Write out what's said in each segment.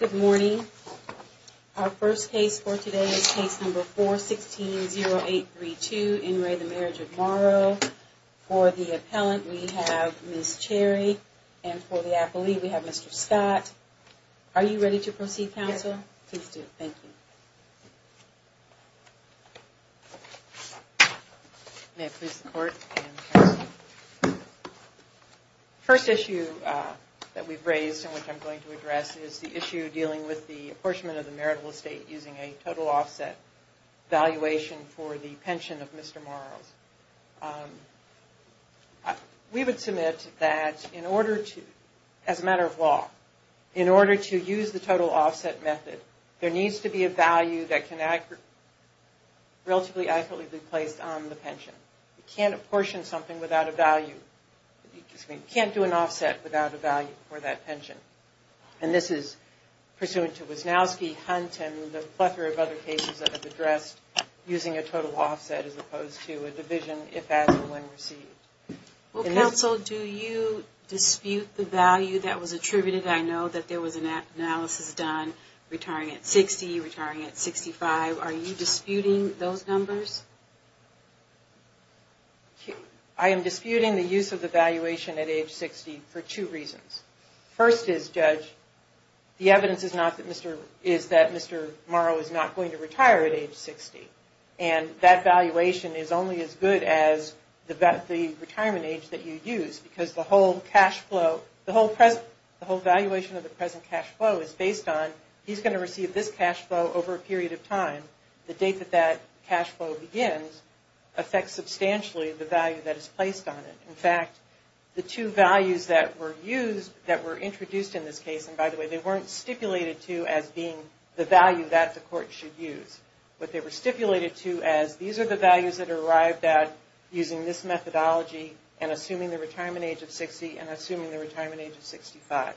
Good morning. Our first case for today is case number 416-0832. In re Marriage of Morrow for the appellant we have Ms. Cherry and for the appellee we have Mr. Skye. Are you ready to proceed counsel? Yes. Please do. Thank you. May it please the court and counsel. First issue that we've raised and which I'm going to address is the issue dealing with the apportionment of the marital estate using a total offset valuation for the pension of Mr. Morrows. We would submit that in order to, as a matter of law, in order to use the total offset method there needs to be a value that can relatively accurately be placed on the pension. You can't apportion something without a value. You can't do an offset without a value for that pension. And this is pursuant to Wisnowski, Hunt, and a plethora of other cases that have addressed using a total offset as opposed to a division if, as, and when received. Well, counsel, do you dispute the value that was attributed? I know that there was an analysis done retiring at 60, retiring at 65. Are you disputing those numbers? I am disputing the use of the valuation at age 60 for two reasons. First is, Judge, the evidence is not that Mr. Morrow is not going to retire at age 60. And that valuation is only as good as the retirement age that you use because the whole cash flow, the whole valuation of the present cash flow is based on he's going to receive this cash flow over a period of time. The date that that cash flow begins affects substantially the value that is placed on it. In fact, the two values that were used, that were introduced in this case, and by the way, they weren't stipulated to as being the value that the court should use. But they were stipulated to as these are the values that are arrived at using this methodology and assuming the retirement age of 60 and assuming the retirement age of 65.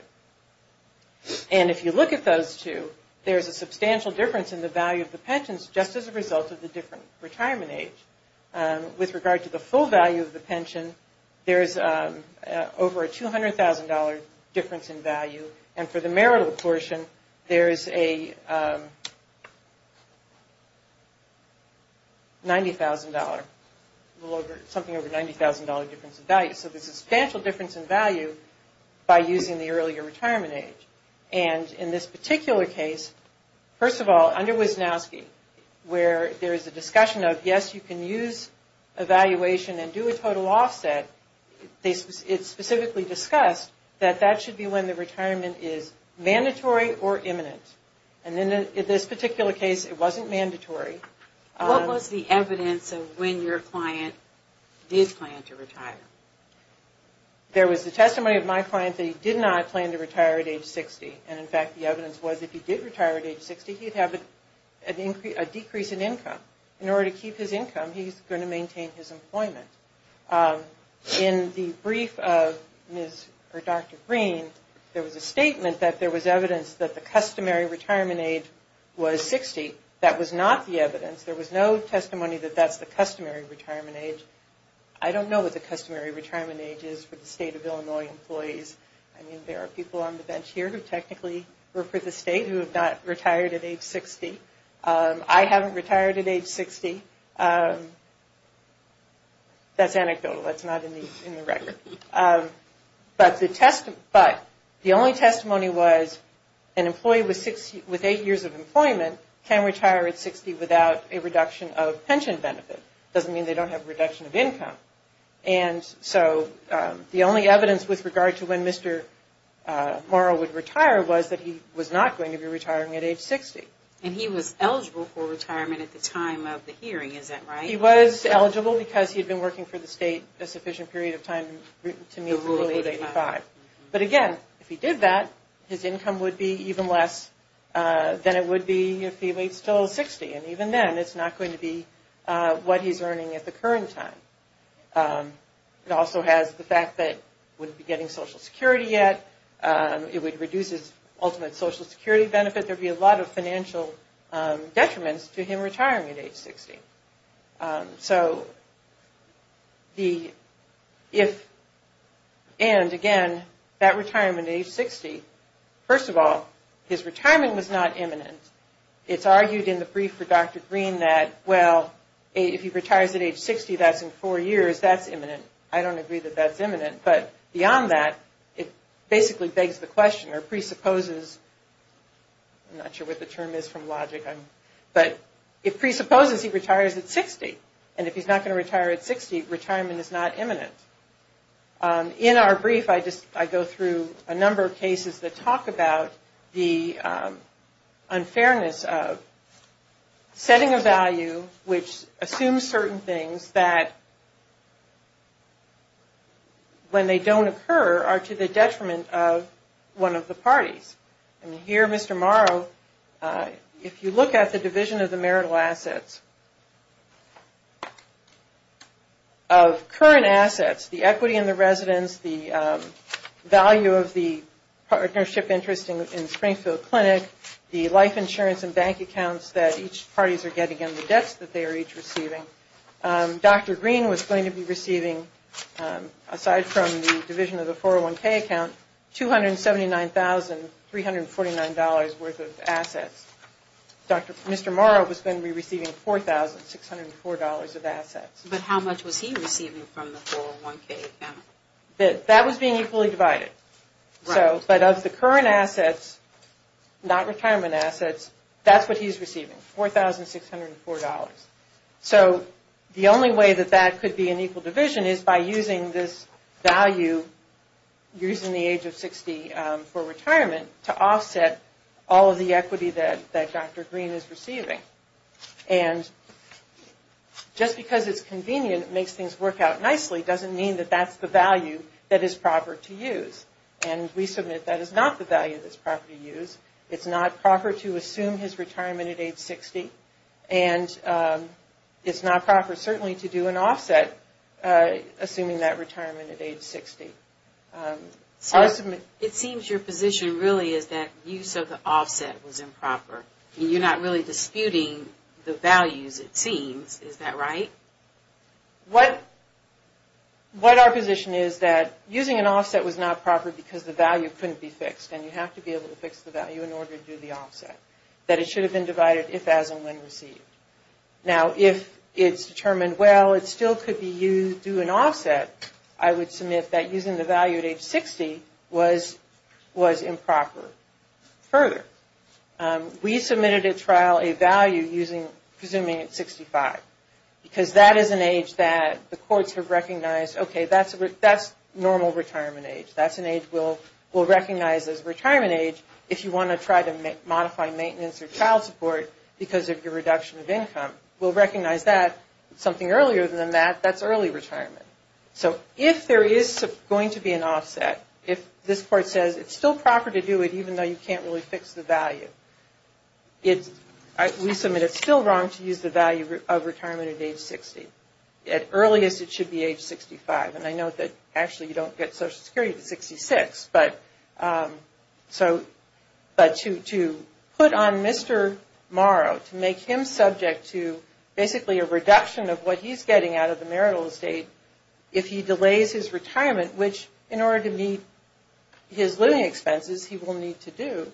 And if you look at those two, there is a substantial difference in the value of the pensions just as a result of the different retirement age. With regard to the full value of the pension, there is over a $200,000 difference in value. And for the marital portion, there is a $90,000, something over $90,000 difference in value. So there's a substantial difference in value by using the earlier retirement age. And in this particular case, first of all, under Wisnowski, where there is a discussion of yes, you can use evaluation and do a total offset, it's specifically discussed that that should be when the retirement is mandatory or imminent. And in this particular case, it wasn't mandatory. What was the evidence of when your client did plan to retire? There was the testimony of my client that he did not plan to retire at age 60. And in fact, the evidence was if he did retire at age 60, he'd have a decrease in income. In order to keep his income, he's going to maintain his employment. In the brief of Dr. Green, there was a statement that there was evidence that the was no testimony that that's the customary retirement age. I don't know what the customary retirement age is for the state of Illinois employees. I mean, there are people on the bench here who technically work for the state who have not retired at age 60. I haven't retired at age 60. That's anecdotal. That's not in the record. But the only testimony was an employee with eight years of employment can retire at 60 without a reduction of pension benefit. Doesn't mean they don't have a reduction of income. And so the only evidence with regard to when Mr. Morrow would retire was that he was not going to be retiring at age 60. And he was eligible for retirement at the time of the hearing. Is that right? He was eligible because he had been working for the state a sufficient period of time to meet the rule of age 85. But again, if he did that, his income would be even less than it would be if he waits until 60. And even then, it's not going to be what he's earning at the current time. It also has the fact that he wouldn't be getting Social Security yet. It would reduce his ultimate Social Security benefit. There would be a lot of financial detriments to him retiring at age 60. And again, that retirement at age 60, first of all, his retirement was not imminent. It's argued in the brief for Dr. Green that, well, if he retires at age 60, that's in four years, that's imminent. I don't agree that that's imminent. But beyond that, it basically begs the question or presupposes, I'm not sure what the term is from logic, but it presupposes he retires at 60. And if he's not going to retire at 60, retirement is not imminent. In our brief, I go through a number of cases that talk about the unfairness of setting a value which assumes certain things that, when they don't occur, are to the detriment of one of the parties. And here, Mr. Morrow, if you look at the division of the marital assets, of current assets, the equity in the residence, the value of the partnership interest in Springfield Clinic, the life insurance and bank accounts that each parties are getting and the debts that they are each receiving, so Dr. Green was going to be receiving, aside from the division of the 401k account, $279,349 worth of assets. Mr. Morrow was going to be receiving $4,604 of assets. But how much was he receiving from the 401k account? That was being equally divided. But of the current assets, not retirement assets, that's what he's receiving, $4,604. So the only way that that could be an equal division is by using this value, using the age of 60 for retirement to offset all of the equity that Dr. Green is receiving. And just because it's convenient, it makes things work out nicely, doesn't mean that that's the value that is proper to use. And we submit that is not the value that's proper to use. It's not proper to assume his retirement at age 60. And it's not proper, certainly, to do an offset, assuming that retirement at age 60. It seems your position really is that use of the offset was improper. You're not really disputing the values, it seems. Is that right? What our position is that using an offset was not proper because the value couldn't be fixed, and you have to be able to fix the value in order to do the offset. That it should have been divided if, as, and when received. Now, if it's determined, well, it still could be used to do an offset, I would submit that using the value at age 60 was improper. Further, we submitted at trial a value using, presuming at 65. Because that is an age that the courts have recognized, okay, that's normal retirement age. That's an age we'll recognize as retirement age if you want to try to modify maintenance or child support because of your reduction of income. We'll recognize that. Something earlier than that, that's early retirement. So if there is going to be an offset, if this court says it's still proper to do it even though you can't really fix the value, we submit it's still wrong to use the value of retirement at age 60. At earliest, it should be age 65. And I note that, actually, you don't get Social Security at age 66. But to put on Mr. Morrow, to make him subject to basically a reduction of what he's getting out of the marital estate, if he delays his retirement, which, in order to meet his living expenses, he will need to do,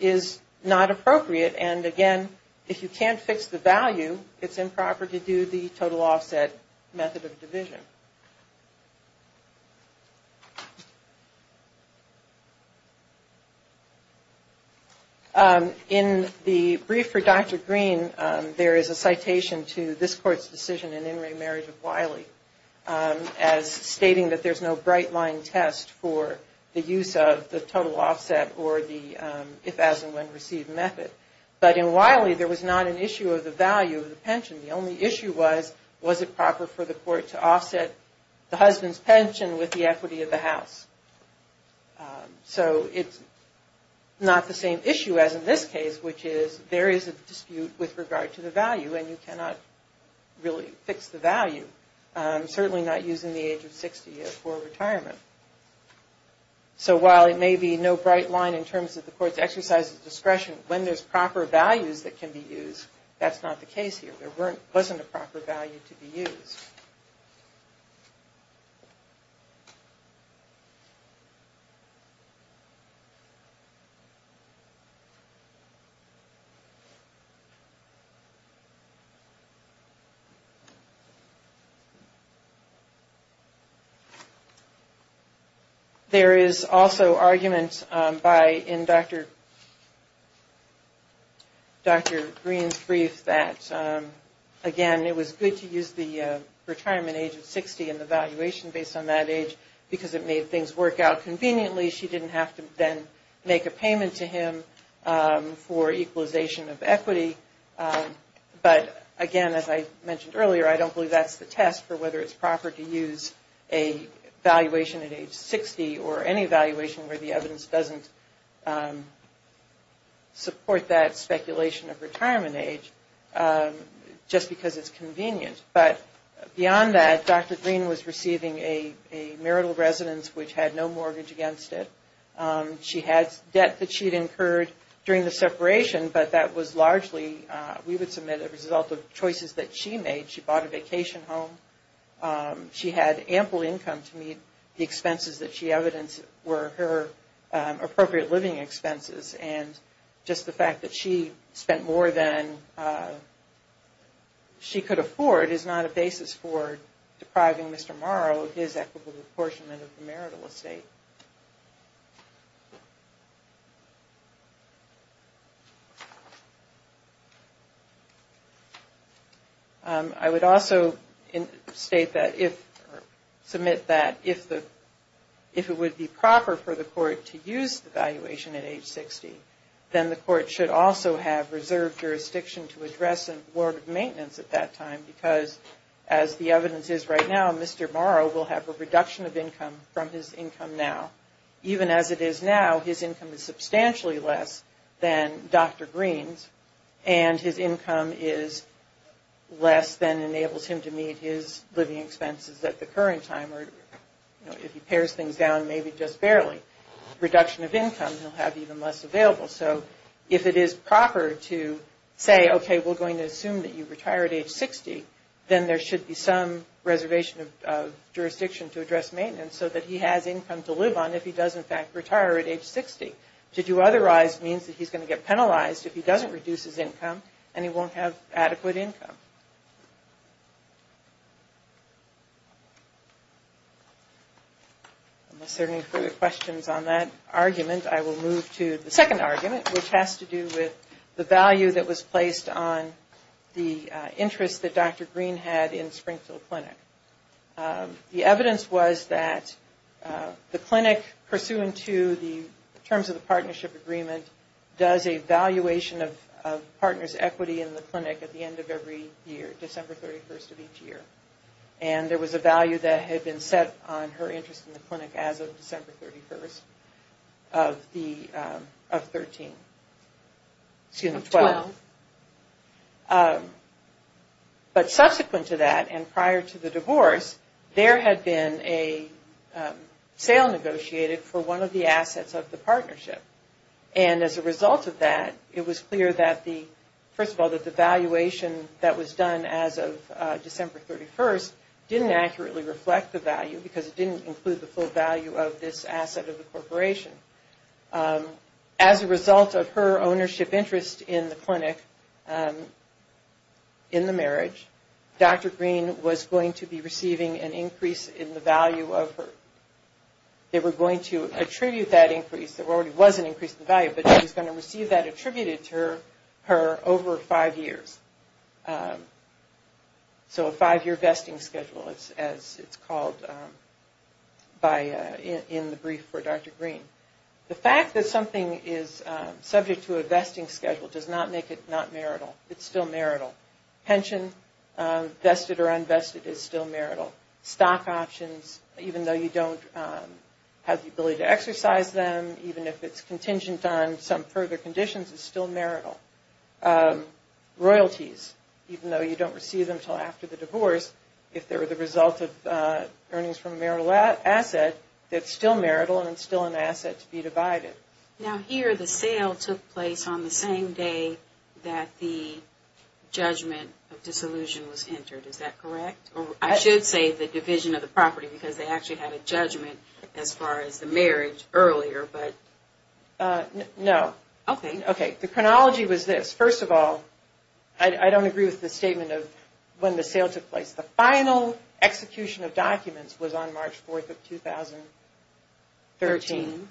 is not appropriate. And again, if you can't fix the value, it's improper to do the total offset method of division. In the brief for Dr. Green, there is a citation to this court's decision in in-ring marriage of Wiley as stating that there's no But in Wiley, there was not an issue of the value of the pension. The only issue was, was it proper for the court to offset the husband's pension with the equity of the house? So it's not the same issue as in this case, which is, there is a dispute with regard to the value, and you cannot really fix the value, certainly not using the age of 60 for retirement. So while it may be no bright line in terms of the court's exercise of discretion, when there's proper values that can be used, that's not the case here. There wasn't a proper value to be used. There is also argument in Dr. Green's brief that, again, it was good to use the retirement age of 60 and the valuation based on that age, because it made things work out conveniently. She didn't have to then make a payment to him for equalization of equity. But, again, as I mentioned earlier, I don't believe that's the test for whether it's proper to use a valuation at age 60 or any valuation where the evidence doesn't support that speculation of retirement age, just because it's convenient. But beyond that, Dr. Green was receiving a marital residence which had no mortgage against it. She had debt that she had incurred during the separation, but that was largely, we would submit, a result of choices that she made. She bought a vacation home. She had ample income to meet the expenses that she evidenced were her appropriate living expenses, and just the fact that she spent more than she could afford is not a basis for depriving Mr. Morrow of his equitable apportionment of the marital estate. I would also state that, or submit that, if it would be proper for the court to use the valuation at age 60, then the court should also have reserved jurisdiction to address a warrant of maintenance at that time, because as the evidence is right now, Mr. Morrow will have a reduction of income from his income now. Even as it is now, his income is substantially less than Dr. Green's, and his income is less than enables him to meet his living expenses at the current time, or if he pares things down, maybe just barely. Reduction of income, he'll have even less available. So if it is proper to say, okay, we're going to assume that you retire at age 60, then there should be some reservation of jurisdiction to address maintenance, so that he has income to live on if he does, in fact, retire at age 60. To do otherwise means that he's going to get penalized if he doesn't reduce his income, and he won't have adequate income. Unless there are any further questions on that argument, I will move to the second argument, which has to do with the value that was placed on the interest that Dr. Green had in Springfield Clinic. The evidence was that the clinic, pursuant to the terms of the partnership agreement, does a valuation of partners' equity in the clinic at the end of every year, December 31st of each year. And there was a value that had been set on her interest in the clinic as of December 31st of 12. But subsequent to that, and prior to the divorce, there had been a sale negotiated for one of the assets of the partnership. And as a result of that, it was clear that the, first of all, that the valuation that was done as of December 31st didn't accurately reflect the value because it didn't include the full value of this asset of the corporation. As a result of her ownership interest in the clinic, in the marriage, Dr. Green was going to be receiving an increase in the value of her, they were going to attribute that increase, there already was an increase in the value, but she was going to receive that attributed to her over five years. So a five-year vesting schedule, as it's called in the brief for Dr. Green. The fact that something is subject to a vesting schedule does not make it not marital. It's still marital. Pension, vested or unvested, is still marital. Stock options, even though you don't have the ability to exercise them, even if it's contingent on some further conditions, it's still marital. Royalties, even though you don't receive them until after the divorce, if they're the result of earnings from a marital asset, it's still marital and it's still an asset to be divided. Now here, the sale took place on the same day that the judgment of disillusion was entered, is that correct? I should say the division of the property because they actually had a judgment as far as the marriage earlier, but... No. Okay. The chronology was this. First of all, I don't agree with the statement of when the sale took place. The final execution of documents was on March 4th of 2013.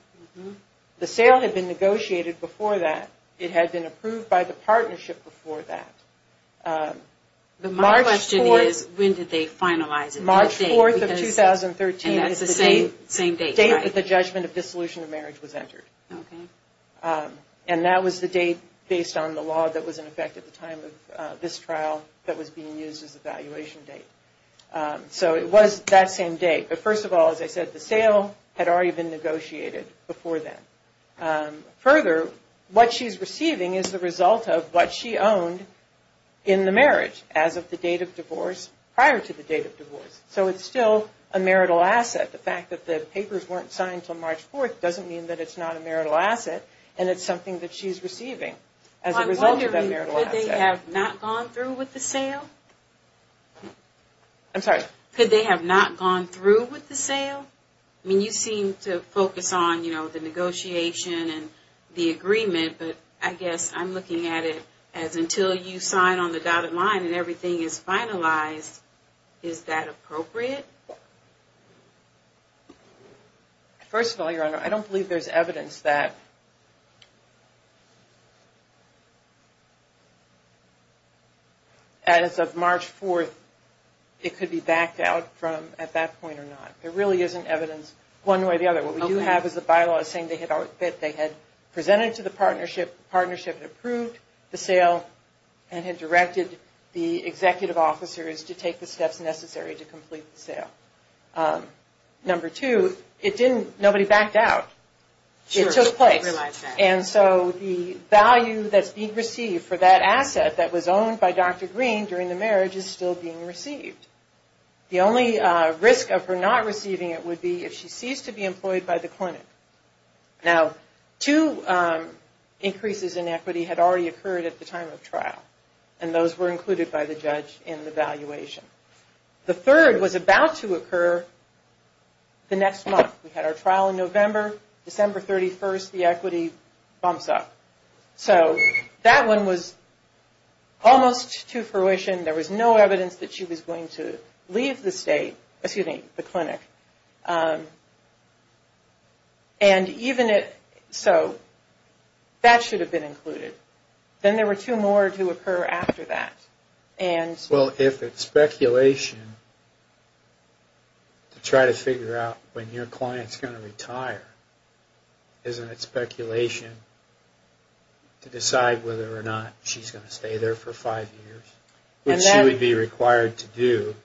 The sale had been negotiated before that. It had been approved by the partnership before that. My question is, when did they finalize it? March 4th of 2013 is the date that the judgment of disillusion of marriage was entered. And that was the date based on the law that was in effect at the time of this trial that was being used as a valuation date. So it was that same date. But first of all, as I said, the sale had already been negotiated before that. Further, what she's receiving is the result of what she owned in the marriage as of the date of divorce prior to the date of divorce. So it's still a marital asset. The fact that the papers weren't signed until March 4th doesn't mean that it's not a marital asset, and it's something that she's receiving as a result of that marital asset. I'm wondering, could they have not gone through with the sale? I'm sorry? and the agreement, but I guess I'm looking at it as until you sign on the dotted line and everything is finalized, is that appropriate? First of all, Your Honor, I don't believe there's evidence that as of March 4th, it could be backed out from at that point or not. There really isn't evidence one way or the other. What we do have is the bylaw saying they had presented to the partnership, the partnership had approved the sale, and had directed the executive officers to take the steps necessary to complete the sale. Number two, nobody backed out. It took place. And so the value that's being received for that asset that was owned by Dr. Green during the marriage is still being received. The only risk of her not receiving it would be if she ceased to be employed by the clinic. Now, two increases in equity had already occurred at the time of trial, and those were included by the judge in the valuation. The third was about to occur the next month. We had our trial in November. December 31st, the equity bumps up. So that one was almost to fruition. There was no evidence that she was going to leave the state, excuse me, the clinic. And even it, so that should have been included. Then there were two more to occur after that. Well, if it's speculation to try to figure out when your client's going to retire, isn't it speculation to decide whether or not she's going to stay there for five years? Which she would be required to do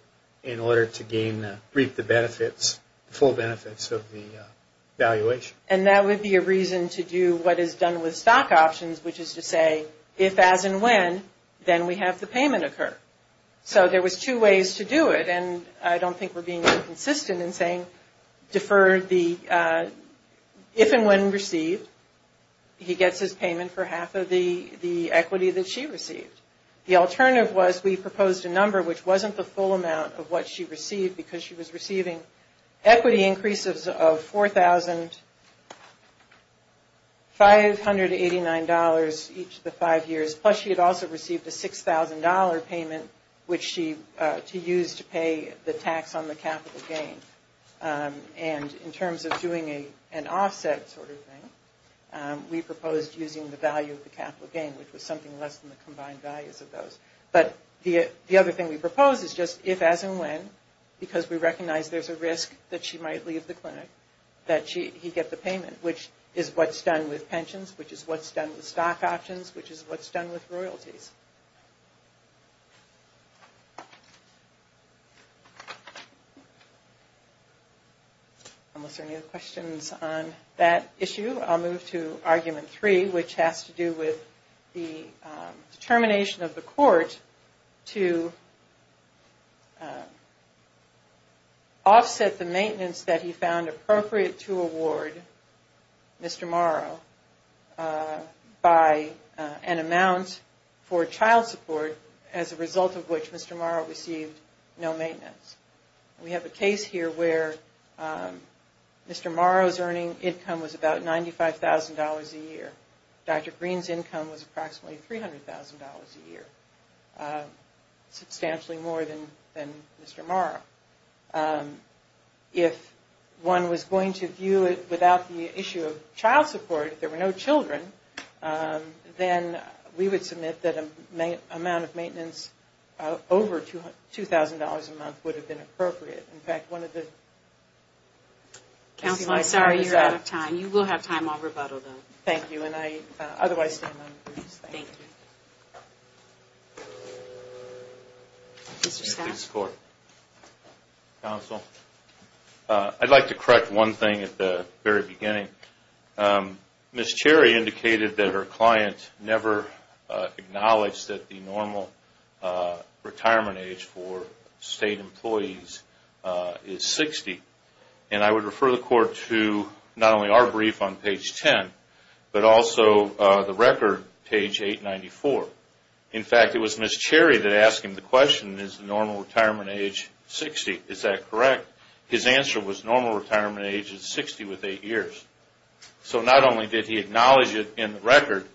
in order to gain, reap the benefits, full benefits of the valuation. And that would be a reason to do what is done with stock options, which is to say, if, as, and when, then we have the payment occur. So there was two ways to do it, and I don't think we're being inconsistent in saying defer the, if and when received, he gets his payment for half of the equity that she received. The alternative was we proposed a number which wasn't the full amount of what she received, because she was receiving equity increases of $4,589 each of the five years. Plus she had also received a $6,000 payment, which she, to use to pay the tax on the capital gain. And in terms of doing an offset sort of thing, we proposed using the value of the capital gain, which was something less than the combined values of those. But the other thing we proposed is just if, as, and when, because we recognize there's a risk that she might leave the clinic, that he get the payment, which is what's done with pensions, which is what's done with stock options, which is what's done with royalties. Unless there are any other questions on that issue, I'll move to argument three, which has to do with the determination of the court to offset the maintenance that he found appropriate to award Mr. Morrow by an amount for child support as a result of which Mr. Morrow received no maintenance. We have a case here where Mr. Morrow's earning income was about $95,000 a year. Dr. Green's income was approximately $300,000 a year, substantially more than Mr. Morrow. If one was going to view it without the issue of child support, if there were no children, then we would submit that an amount of maintenance over $2,000 a month would have been appropriate. In fact, one of the... Counsel, I'm sorry, you're out of time. You will have time. I'll rebuttal, though. Thank you. And I otherwise stand on the briefs. Thank you. Thank you. Mr. Scott? Please, Court. Counsel, I'd like to correct one thing at the very beginning. Ms. Cherry indicated that her client never acknowledged that the normal retirement age for state employees is 60. And I would refer the court to not only our brief on page 10, but also the record, page 894. In fact, it was Ms. Cherry that asked him the question, is the normal retirement age 60? Is that correct? His answer was normal retirement age is 60 with eight years. So not only did he acknowledge it in the record,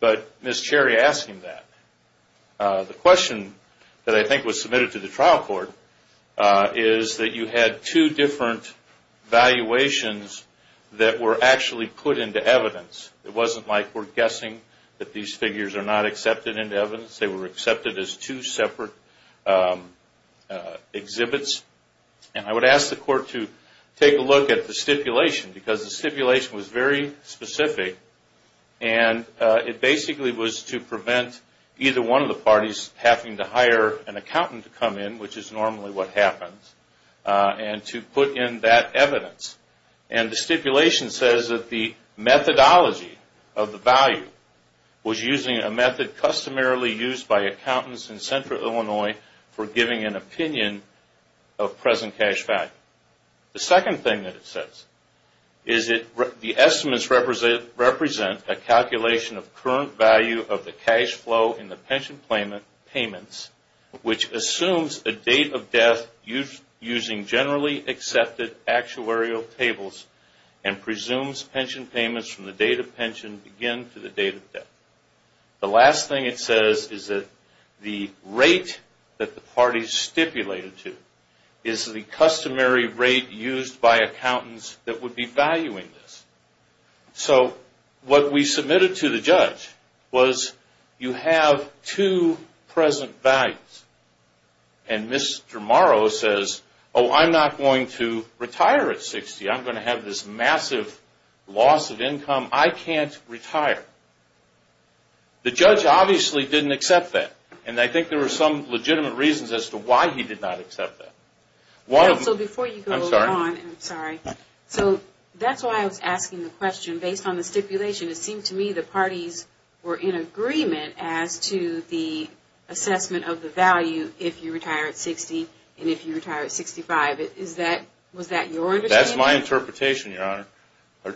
but Ms. Cherry asked him that. The question that I think was submitted to the trial court is that you had two different valuations that were actually put into evidence. It wasn't like we're guessing that these figures are not accepted into evidence. They were accepted as two separate exhibits. And I would ask the court to take a look at the stipulation because the stipulation was very specific. And it basically was to prevent either one of the parties having to hire an accountant to come in, which is normally what happens, and to put in that evidence. And the stipulation says that the methodology of the value was using a method customarily used by accountants in central Illinois for giving an opinion of present cash value. The second thing that it says is that the estimates represent a calculation of current value of the cash flow in the pension payments, which assumes a date of death using generally accepted actuarial tables and presumes pension payments from the date of pension begin to the date of death. The last thing it says is that the rate that the parties stipulated to is the customary rate used by accountants that would be valuing this. So what we submitted to the judge was you have two present values. And Mr. Morrow says, oh, I'm not going to retire at 60. I'm going to have this massive loss of income. I can't retire. The judge obviously didn't accept that. And I think there were some legitimate reasons as to why he did not accept that. So before you go on, I'm sorry. So that's why I was asking the question. Based on the stipulation, it seemed to me the parties were in agreement as to the assessment of the value if you retire at 60 and if you retire at 65. Was that your understanding? That's my interpretation,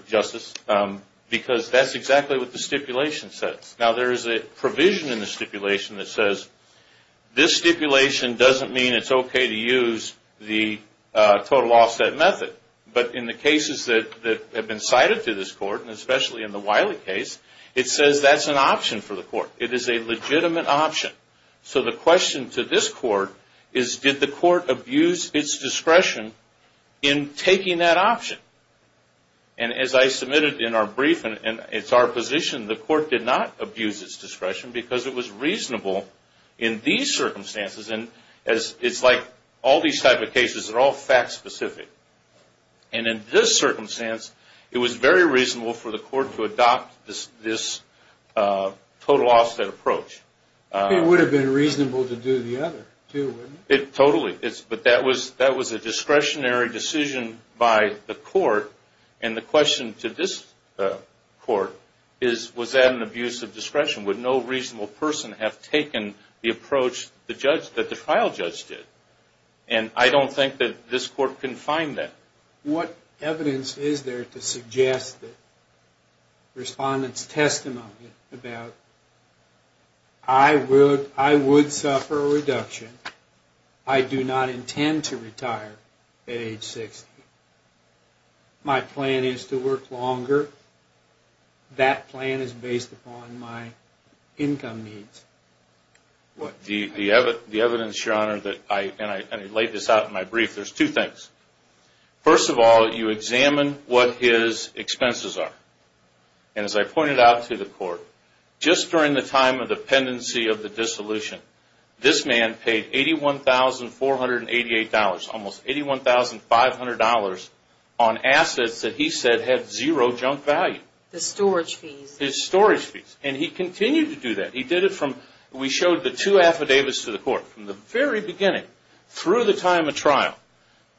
Justice, because that's exactly what the stipulation says. Now there is a provision in the stipulation that says this stipulation doesn't mean it's okay to use the total offset method. But in the cases that have been cited to this court, and especially in the Wiley case, it says that's an option for the court. It is a legitimate option. So the question to this court is did the court abuse its discretion in taking that option? And as I submitted in our brief, and it's our position, the court did not abuse its discretion because it was reasonable in these circumstances. And it's like all these type of cases are all fact-specific. And in this circumstance, it was very reasonable for the court to adopt this total offset approach. It would have been reasonable to do the other, too, wouldn't it? Totally. But that was a discretionary decision by the court. And the question to this court is was that an abuse of discretion? Would no reasonable person have taken the approach that the trial judge did? And I don't think that this court can find that. What evidence is there to suggest that respondents' testimony about I would suffer a reduction. I do not intend to retire at age 60. My plan is to work longer. That plan is based upon my income needs. The evidence, Your Honor, and I laid this out in my brief, there's two things. First of all, you examine what his expenses are. And as I pointed out to the court, just during the time of the pendency of the dissolution, this man paid $81,488, almost $81,500, on assets that he said had zero junk value. The storage fees. His storage fees. And he continued to do that. He did it from, we showed the two affidavits to the court from the very beginning through the time of trial.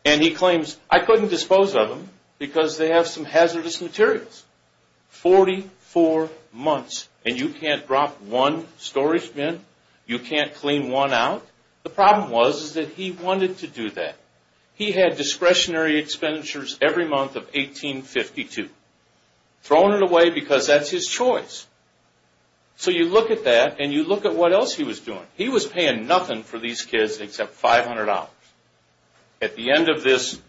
And he claims, I couldn't dispose of them because they have some hazardous materials. 44 months and you can't drop one storage bin? You can't clean one out? The problem was that he wanted to do that. He had discretionary expenditures every month of 1852. Thrown it away because that's his choice. So you look at that and you look at what else he was doing. He was paying nothing for these kids except $500. At the end of this,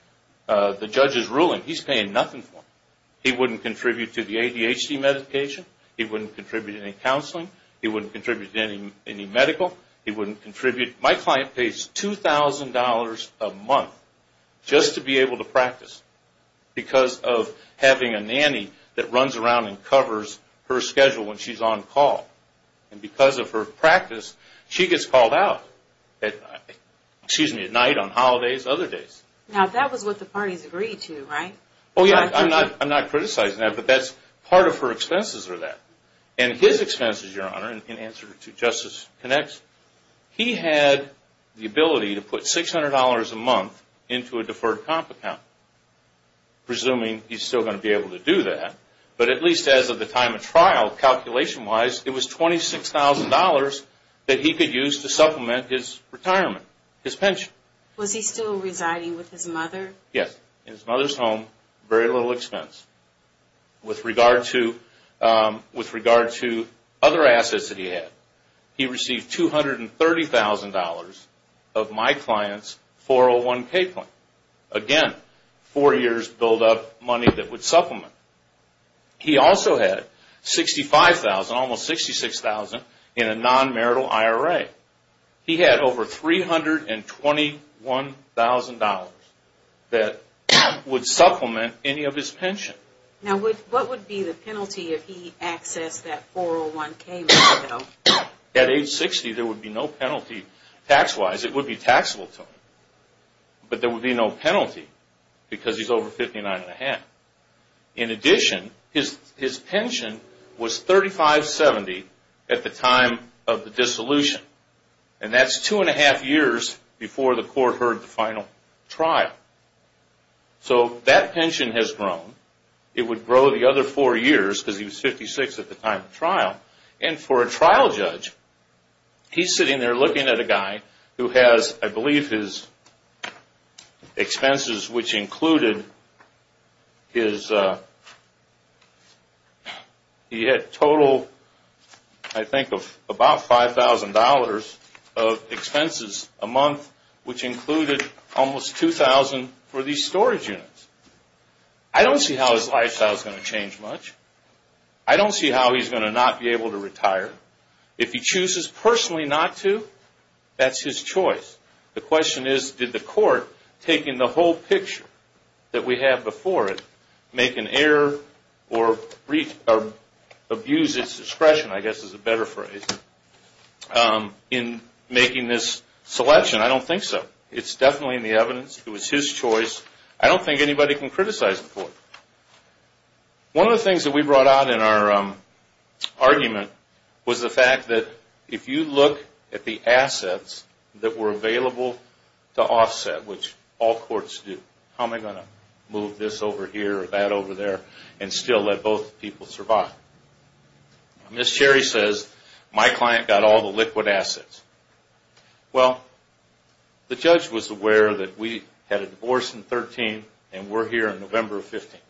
the judge's ruling, he's paying nothing for them. He wouldn't contribute to the ADHD medication. He wouldn't contribute to any counseling. He wouldn't contribute to any medical. He wouldn't contribute. Because of having a nanny that runs around and covers her schedule when she's on call. And because of her practice, she gets called out. Excuse me, at night, on holidays, other days. Now that was what the parties agreed to, right? Oh, yeah. I'm not criticizing that. But that's part of her expenses are that. And his expenses, Your Honor, in answer to Justice Knax, he had the ability to put $600 a month into a deferred comp account. Presuming he's still going to be able to do that. But at least as of the time of trial, calculation-wise, it was $26,000 that he could use to supplement his retirement, his pension. Was he still residing with his mother? Yes. In his mother's home, very little expense. With regard to other assets that he had, he received $230,000 of my client's 401k plan. Again, four years buildup money that would supplement. He also had $65,000, almost $66,000 in a non-marital IRA. He had over $321,000 that would supplement any of his pension. Now, what would be the penalty if he accessed that 401k? At age 60, there would be no penalty. Tax-wise, it would be taxable to him. But there would be no penalty because he's over 59 and a half. In addition, his pension was $3570 at the time of the dissolution. And that's two and a half years before the court heard the final trial. So that pension has grown. It would grow the other four years because he was 56 at the time of trial. And for a trial judge, he's sitting there looking at a guy who has, I believe, his expenses, which included his... He had total, I think, of about $5,000 of expenses a month, which included almost $2,000 for these storage units. I don't see how his lifestyle is going to change much. I don't see how he's going to not be able to retire. If he chooses personally not to, that's his choice. The question is, did the court, taking the whole picture that we have before it, make an error or abuse its discretion, I guess is a better phrase, in making this selection? I don't think so. It's definitely in the evidence. It was his choice. I don't think anybody can criticize the court. One of the things that we brought out in our argument was the fact that if you look at the assets that were available to offset, which all courts do, how am I going to move this over here or that over there and still let both people survive? Ms. Cherry says, my client got all the liquid assets. Well, the judge was aware that we had a divorce in 2013 and we're here in November of 2015.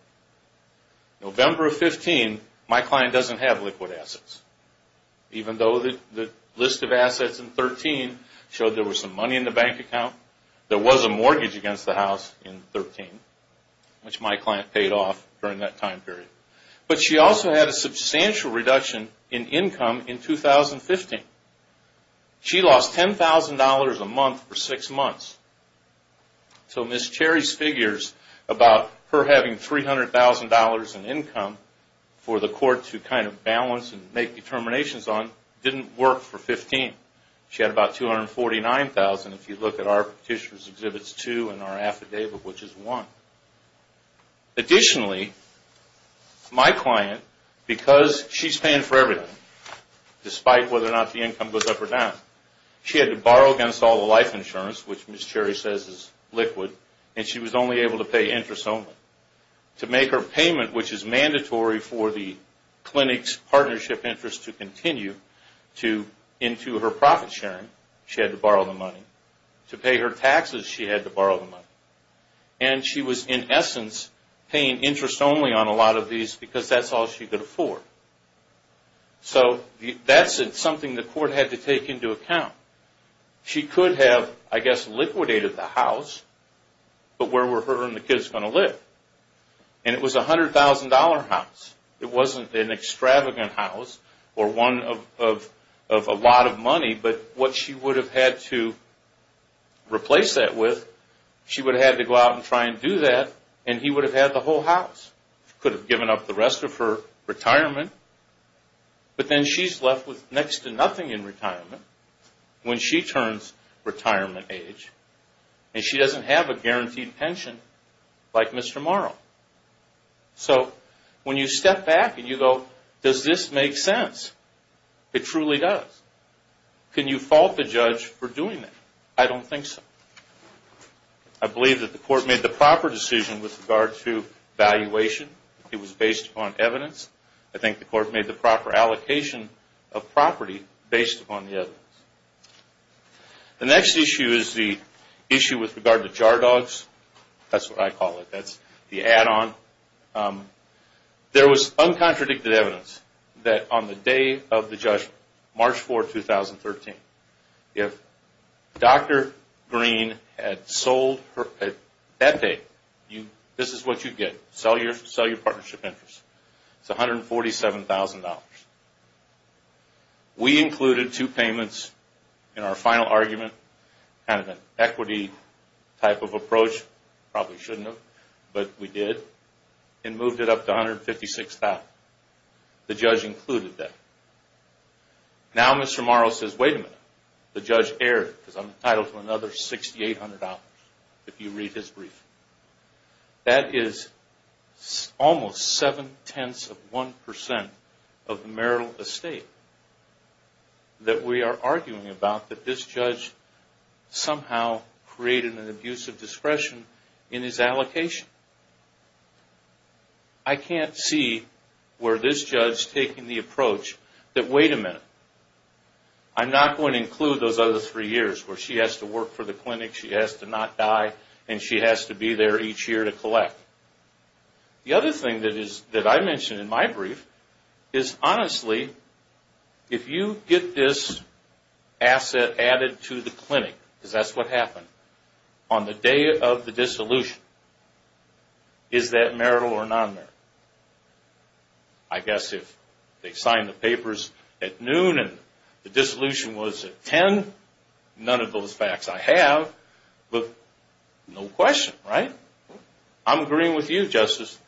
November of 2015, my client doesn't have liquid assets, even though the list of assets in 2013 showed there was some money in the bank account. There was a mortgage against the house in 2013, which my client paid off during that time period. But she also had a substantial reduction in income in 2015. She lost $10,000 a month for six months. So Ms. Cherry's figures about her having $300,000 in income for the court to kind of balance and make determinations on didn't work for 15. She had about $249,000 if you look at our Petitioner's Exhibits 2 and our affidavit, which is 1. Additionally, my client, because she's paying for everything, despite whether or not the income goes up or down, she had to borrow against all the life insurance, which Ms. Cherry says is liquid, and she was only able to pay interest only. To make her payment, which is mandatory for the clinic's partnership interest to continue into her profit sharing, she had to borrow the money. To pay her taxes, she had to borrow the money. And she was, in essence, paying interest only on a lot of these because that's all she could afford. So that's something the court had to take into account. She could have, I guess, liquidated the house, but where were her and the kids going to live? And it was a $100,000 house. It wasn't an extravagant house or one of a lot of money, but what she would have had to replace that with, she would have had to go out and try and do that, and he would have had the whole house. He could have given up the rest of her retirement, but then she's left with next to nothing in retirement when she turns retirement age, and she doesn't have a guaranteed pension like Mr. Morrow. So when you step back and you go, does this make sense? It truly does. Can you fault the judge for doing that? I don't think so. I believe that the court made the proper decision with regard to valuation. It was based upon evidence. I think the court made the proper allocation of property based upon the evidence. The next issue is the issue with regard to jar dogs. That's what I call it. That's the add-on. There was uncontradicted evidence that on the day of the judgment, March 4, 2013, if Dr. Green had sold at that date, this is what you'd get. Sell your partnership interest. It's $147,000. We included two payments in our final argument, kind of an equity type of approach. Probably shouldn't have, but we did, and moved it up to $156,000. The judge included that. Now Mr. Morrow says, wait a minute. The judge erred because I'm entitled to another $6,800 if you read his brief. That is almost seven-tenths of 1% of the marital estate that we are arguing about, that this judge somehow created an abuse of discretion in his allocation. I can't see where this judge taking the approach that, wait a minute. I'm not going to include those other three years where she has to work for the clinic, she has to not die, and she has to be there each year to collect. The other thing that I mentioned in my brief is, honestly, if you get this asset added to the clinic, because that's what happened, on the day of the dissolution, is that marital or non-marital? I guess if they signed the papers at noon and the dissolution was at 10, none of those facts I have, but no question, right? I'm agreeing with you, Justice.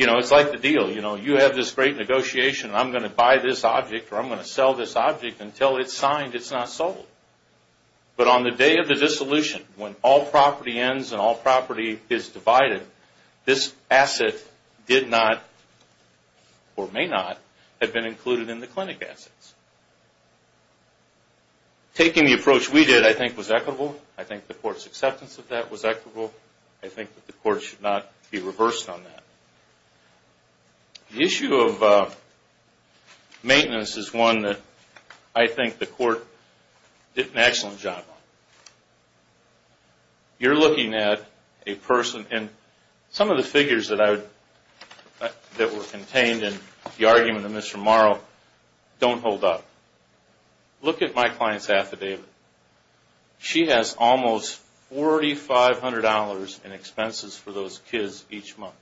It's like the deal. You have this great negotiation. I'm going to buy this object or I'm going to sell this object until it's signed, it's not sold. But on the day of the dissolution, when all property ends and all property is divided, this asset did not, or may not, have been included in the clinic assets. Taking the approach we did, I think, was equitable. I think the court's acceptance of that was equitable. I think that the court should not be reversed on that. The issue of maintenance is one that I think the court did an excellent job on. You're looking at a person, and some of the figures that were contained in the argument of Mr. Morrow don't hold up. Look at my client's affidavit. She has almost $4,500 in expenses for those kids each month.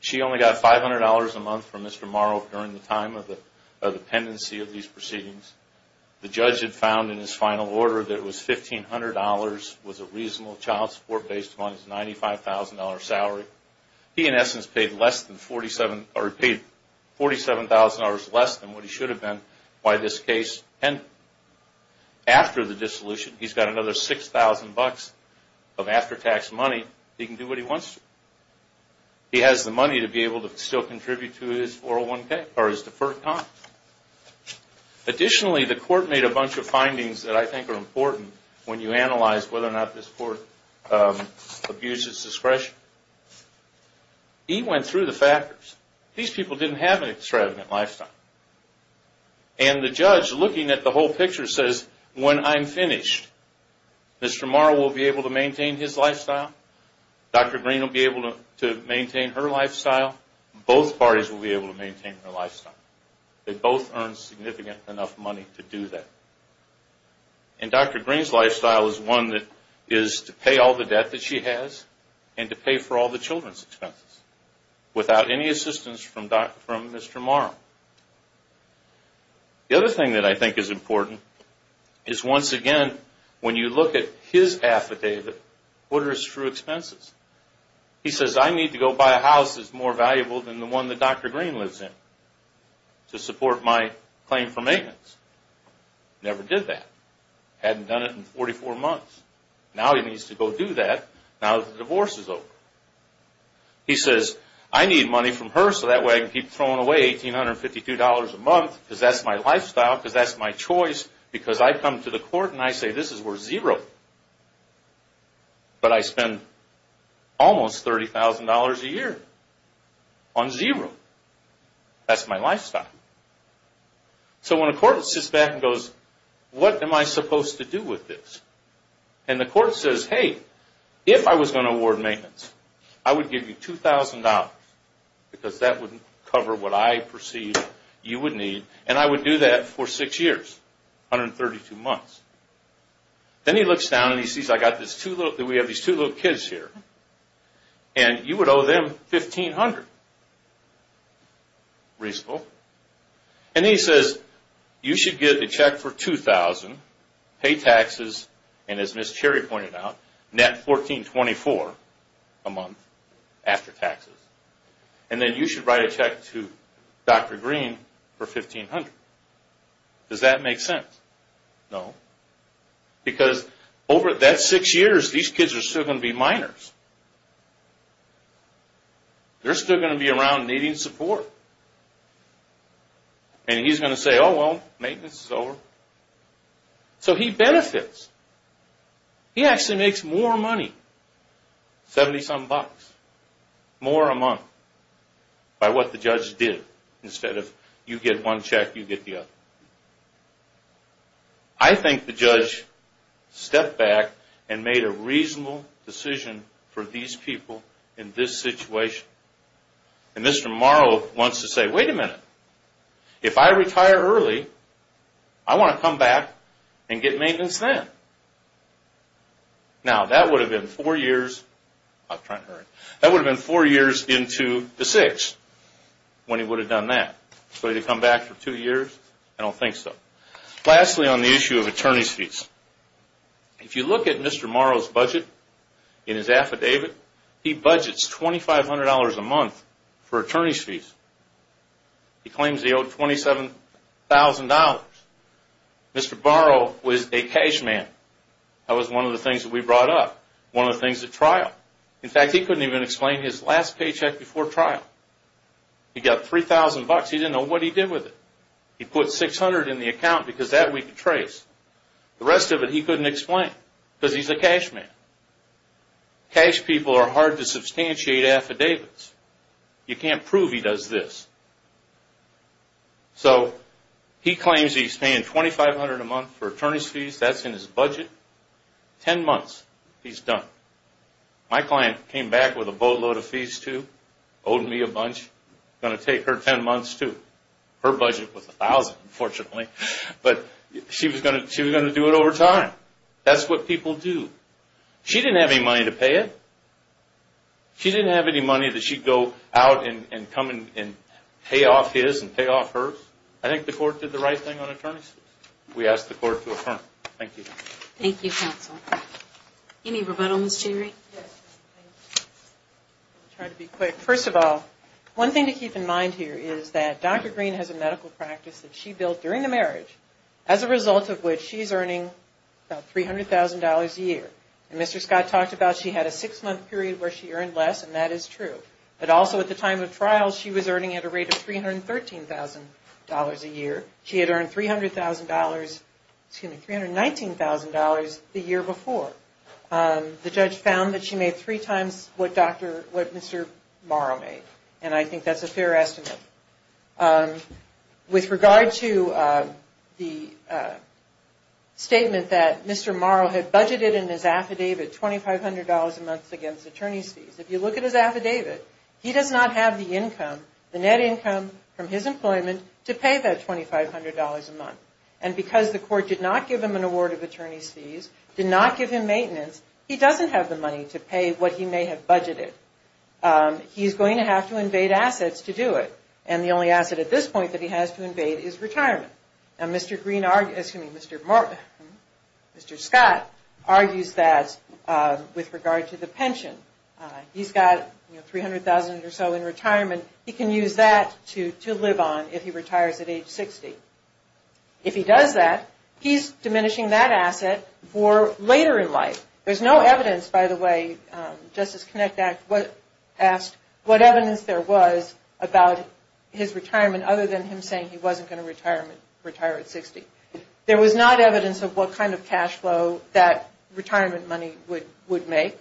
She only got $500 a month from Mr. Morrow during the time of the pendency of these proceedings. The judge had found in his final order that it was $1,500 was a reasonable child support-based fund, his $95,000 salary. He, in essence, paid $47,000 less than what he should have been by this case and after the dissolution. He's got another $6,000 of after-tax money. He can do what he wants to. He has the money to be able to still contribute to his 401k or his deferred comp. Additionally, the court made a bunch of findings that I think are important when you analyze whether or not this court abuses discretion. He went through the factors. These people didn't have an extravagant lifestyle. The judge, looking at the whole picture, says, when I'm finished, Mr. Morrow will be able to maintain his lifestyle. Dr. Green will be able to maintain her lifestyle. Both parties will be able to maintain their lifestyle. They both earned significant enough money to do that. Dr. Green's lifestyle is one that is to pay all the debt that she has and to pay for all the children's expenses without any assistance from Mr. Morrow. The other thing that I think is important is, once again, when you look at his affidavit, what are his true expenses? He says, I need to go buy a house that's more valuable than the one that Dr. Green lives in to support my claim for maintenance. Never did that. Hadn't done it in 44 months. Now he needs to go do that. Now the divorce is over. He says, I need money from her so that way I can keep throwing away $1,852 a month because that's my lifestyle, because that's my choice, because I come to the court and I say, this is worth zero. But I spend almost $30,000 a year on zero. That's my lifestyle. So when a court sits back and goes, what am I supposed to do with this? And the court says, hey, if I was going to award maintenance, I would give you $2,000 because that would cover what I perceive you would need, and I would do that for six years, 132 months. Then he looks down and he sees that we have these two little kids here, and you would owe them $1,500. Reasonable. And he says, you should get a check for $2,000, pay taxes, and as Ms. Cherry pointed out, net $1,424 a month after taxes, and then you should write a check to Dr. Green for $1,500. Does that make sense? No. Because over that six years, these kids are still going to be minors. They're still going to be around needing support. And he's going to say, oh, well, maintenance is over. So he benefits. He actually makes more money, 70-some bucks, more a month, by what the judge did instead of you get one check, you get the other. I think the judge stepped back and made a reasonable decision for these people in this situation. And Mr. Morrow wants to say, wait a minute. If I retire early, I want to come back and get maintenance then. Now, that would have been four years into the six when he would have done that. Would he have come back for two years? I don't think so. Lastly, on the issue of attorney's fees. If you look at Mr. Morrow's budget in his affidavit, he budgets $2,500 a month for attorney's fees. He claims he owed $27,000. Mr. Morrow was a cash man. That was one of the things that we brought up, one of the things at trial. In fact, he couldn't even explain his last paycheck before trial. He got $3,000. He didn't know what he did with it. He put $600 in the account because that we could trace. The rest of it he couldn't explain because he's a cash man. Cash people are hard to substantiate affidavits. You can't prove he does this. So he claims he's paying $2,500 a month for attorney's fees. That's in his budget. Ten months, he's done. My client came back with a boatload of fees too, owed me a bunch. It's going to take her ten months too. Her budget was $1,000, unfortunately. But she was going to do it over time. That's what people do. She didn't have any money to pay it. She didn't have any money that she'd go out and come and pay off his and pay off hers. I think the court did the right thing on attorney's fees. We ask the court to affirm. Thank you. Thank you, counsel. Any rebuttal, Ms. Jerry? I'll try to be quick. First of all, one thing to keep in mind here is that Dr. Green has a medical practice that she built during the marriage, as a result of which she's earning about $300,000 a year. And Mr. Scott talked about she had a six-month period where she earned less, and that is true. But also at the time of trial, she was earning at a rate of $313,000 a year. She had earned $300,000, excuse me, $319,000 the year before. The judge found that she made three times what Mr. Morrow made, and I think that's a fair estimate. With regard to the statement that Mr. Morrow had budgeted in his affidavit $2,500 a month against attorney's fees, if you look at his affidavit, he does not have the income, the net income from his employment, to pay that $2,500 a month. And because the court did not give him an award of attorney's fees, did not give him maintenance, he doesn't have the money to pay what he may have budgeted. He's going to have to invade assets to do it, and the only asset at this point that he has to invade is retirement. Now Mr. Green, excuse me, Mr. Scott argues that with regard to the pension. He's got $300,000 or so in retirement. He can use that to live on if he retires at age 60. If he does that, he's diminishing that asset for later in life. There's no evidence, by the way, Justice Connick asked what evidence there was about his retirement other than him saying he wasn't going to retire at 60. There was not evidence of what kind of cash flow that retirement money would make.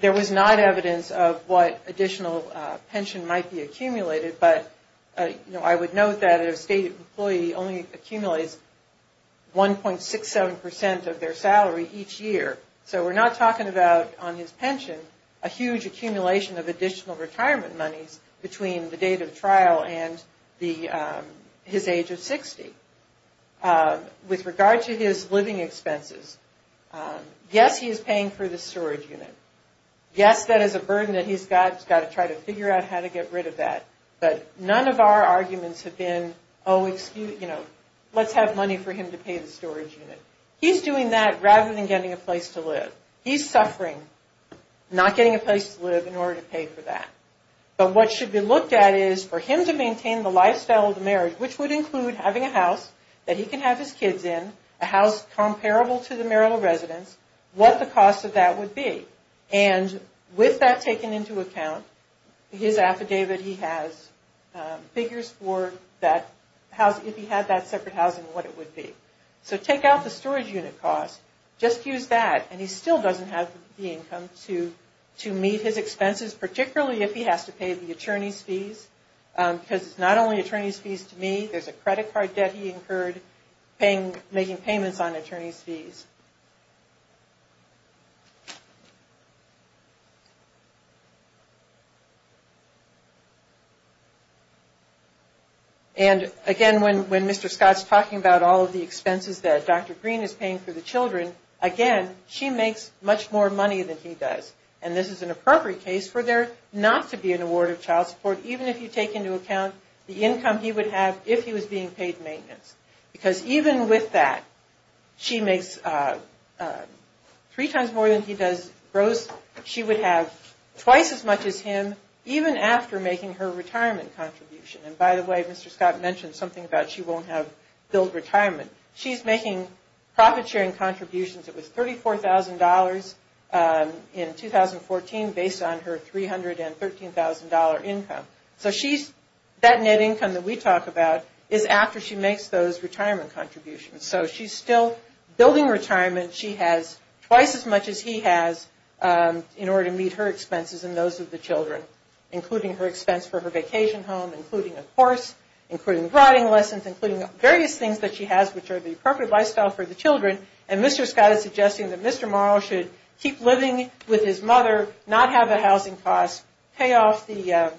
There was not evidence of what additional pension might be accumulated, but I would note that a state employee only accumulates 1.67% of their salary each year. So we're not talking about, on his pension, a huge accumulation of additional retirement monies between the date of the trial and his age of 60. With regard to his living expenses, yes, he is paying for the storage unit. Yes, that is a burden that he's got. He's got to try to figure out how to get rid of that, but none of our arguments have been, oh, let's have money for him to pay the storage unit. He's doing that rather than getting a place to live. He's suffering not getting a place to live in order to pay for that, but what should be looked at is for him to maintain the lifestyle of the marriage, which would include having a house that he can have his kids in, a house comparable to the marital residence, what the cost of that would be. And with that taken into account, his affidavit, he has figures for that house, if he had that separate housing, what it would be. So take out the storage unit cost, just use that, and he still doesn't have the income to meet his expenses, particularly if he has to pay the attorney's fees, because it's not only attorney's fees to me. There's a credit card debt he incurred making payments on attorney's fees. And again, when Mr. Scott's talking about all of the expenses that Dr. Green is paying for the children, again, she makes much more money than he does, and this is an appropriate case for there not to be an award of child support, even if you take into account the income he would have if he was being paid maintenance. Because even with that, she makes three times more than he does gross. She would have twice as much as him, even after making her retirement contribution. And by the way, Mr. Scott mentioned something about she won't have billed retirement. She's making profit-sharing contributions. It was $34,000 in 2014 based on her $313,000 income. So that net income that we talk about is after she makes those retirement contributions. So she's still building retirement. She has twice as much as he has in order to meet her expenses and those of the children, including her expense for her vacation home, including a course, including writing lessons, including various things that she has which are the appropriate lifestyle for the children. And Mr. Scott is suggesting that Mr. Morrow should keep living with his mother, not have the housing costs, pay off the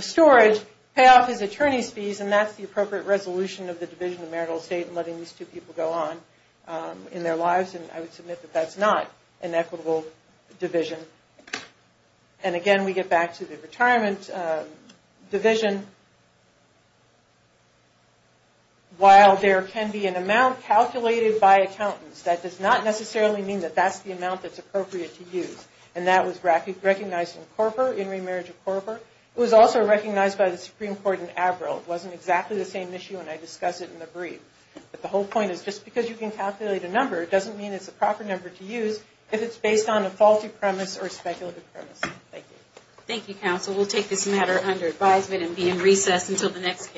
storage, pay off his attorney's fees, and that's the appropriate resolution of the Division of Marital Estate in letting these two people go on in their lives, and I would submit that that's not an equitable division. And again, we get back to the retirement division. While there can be an amount calculated by accountants, that does not necessarily mean that that's the amount that's appropriate to use, and that was recognized in CORPA, in Remarriage of CORPA. It was also recognized by the Supreme Court in Avril. It wasn't exactly the same issue when I discussed it in the brief. But the whole point is just because you can calculate a number, it doesn't mean it's the proper number to use if it's based on a faulty premise or speculative premise. Thank you. Thank you, counsel. We'll take this matter under advisement and be in recess until the next case.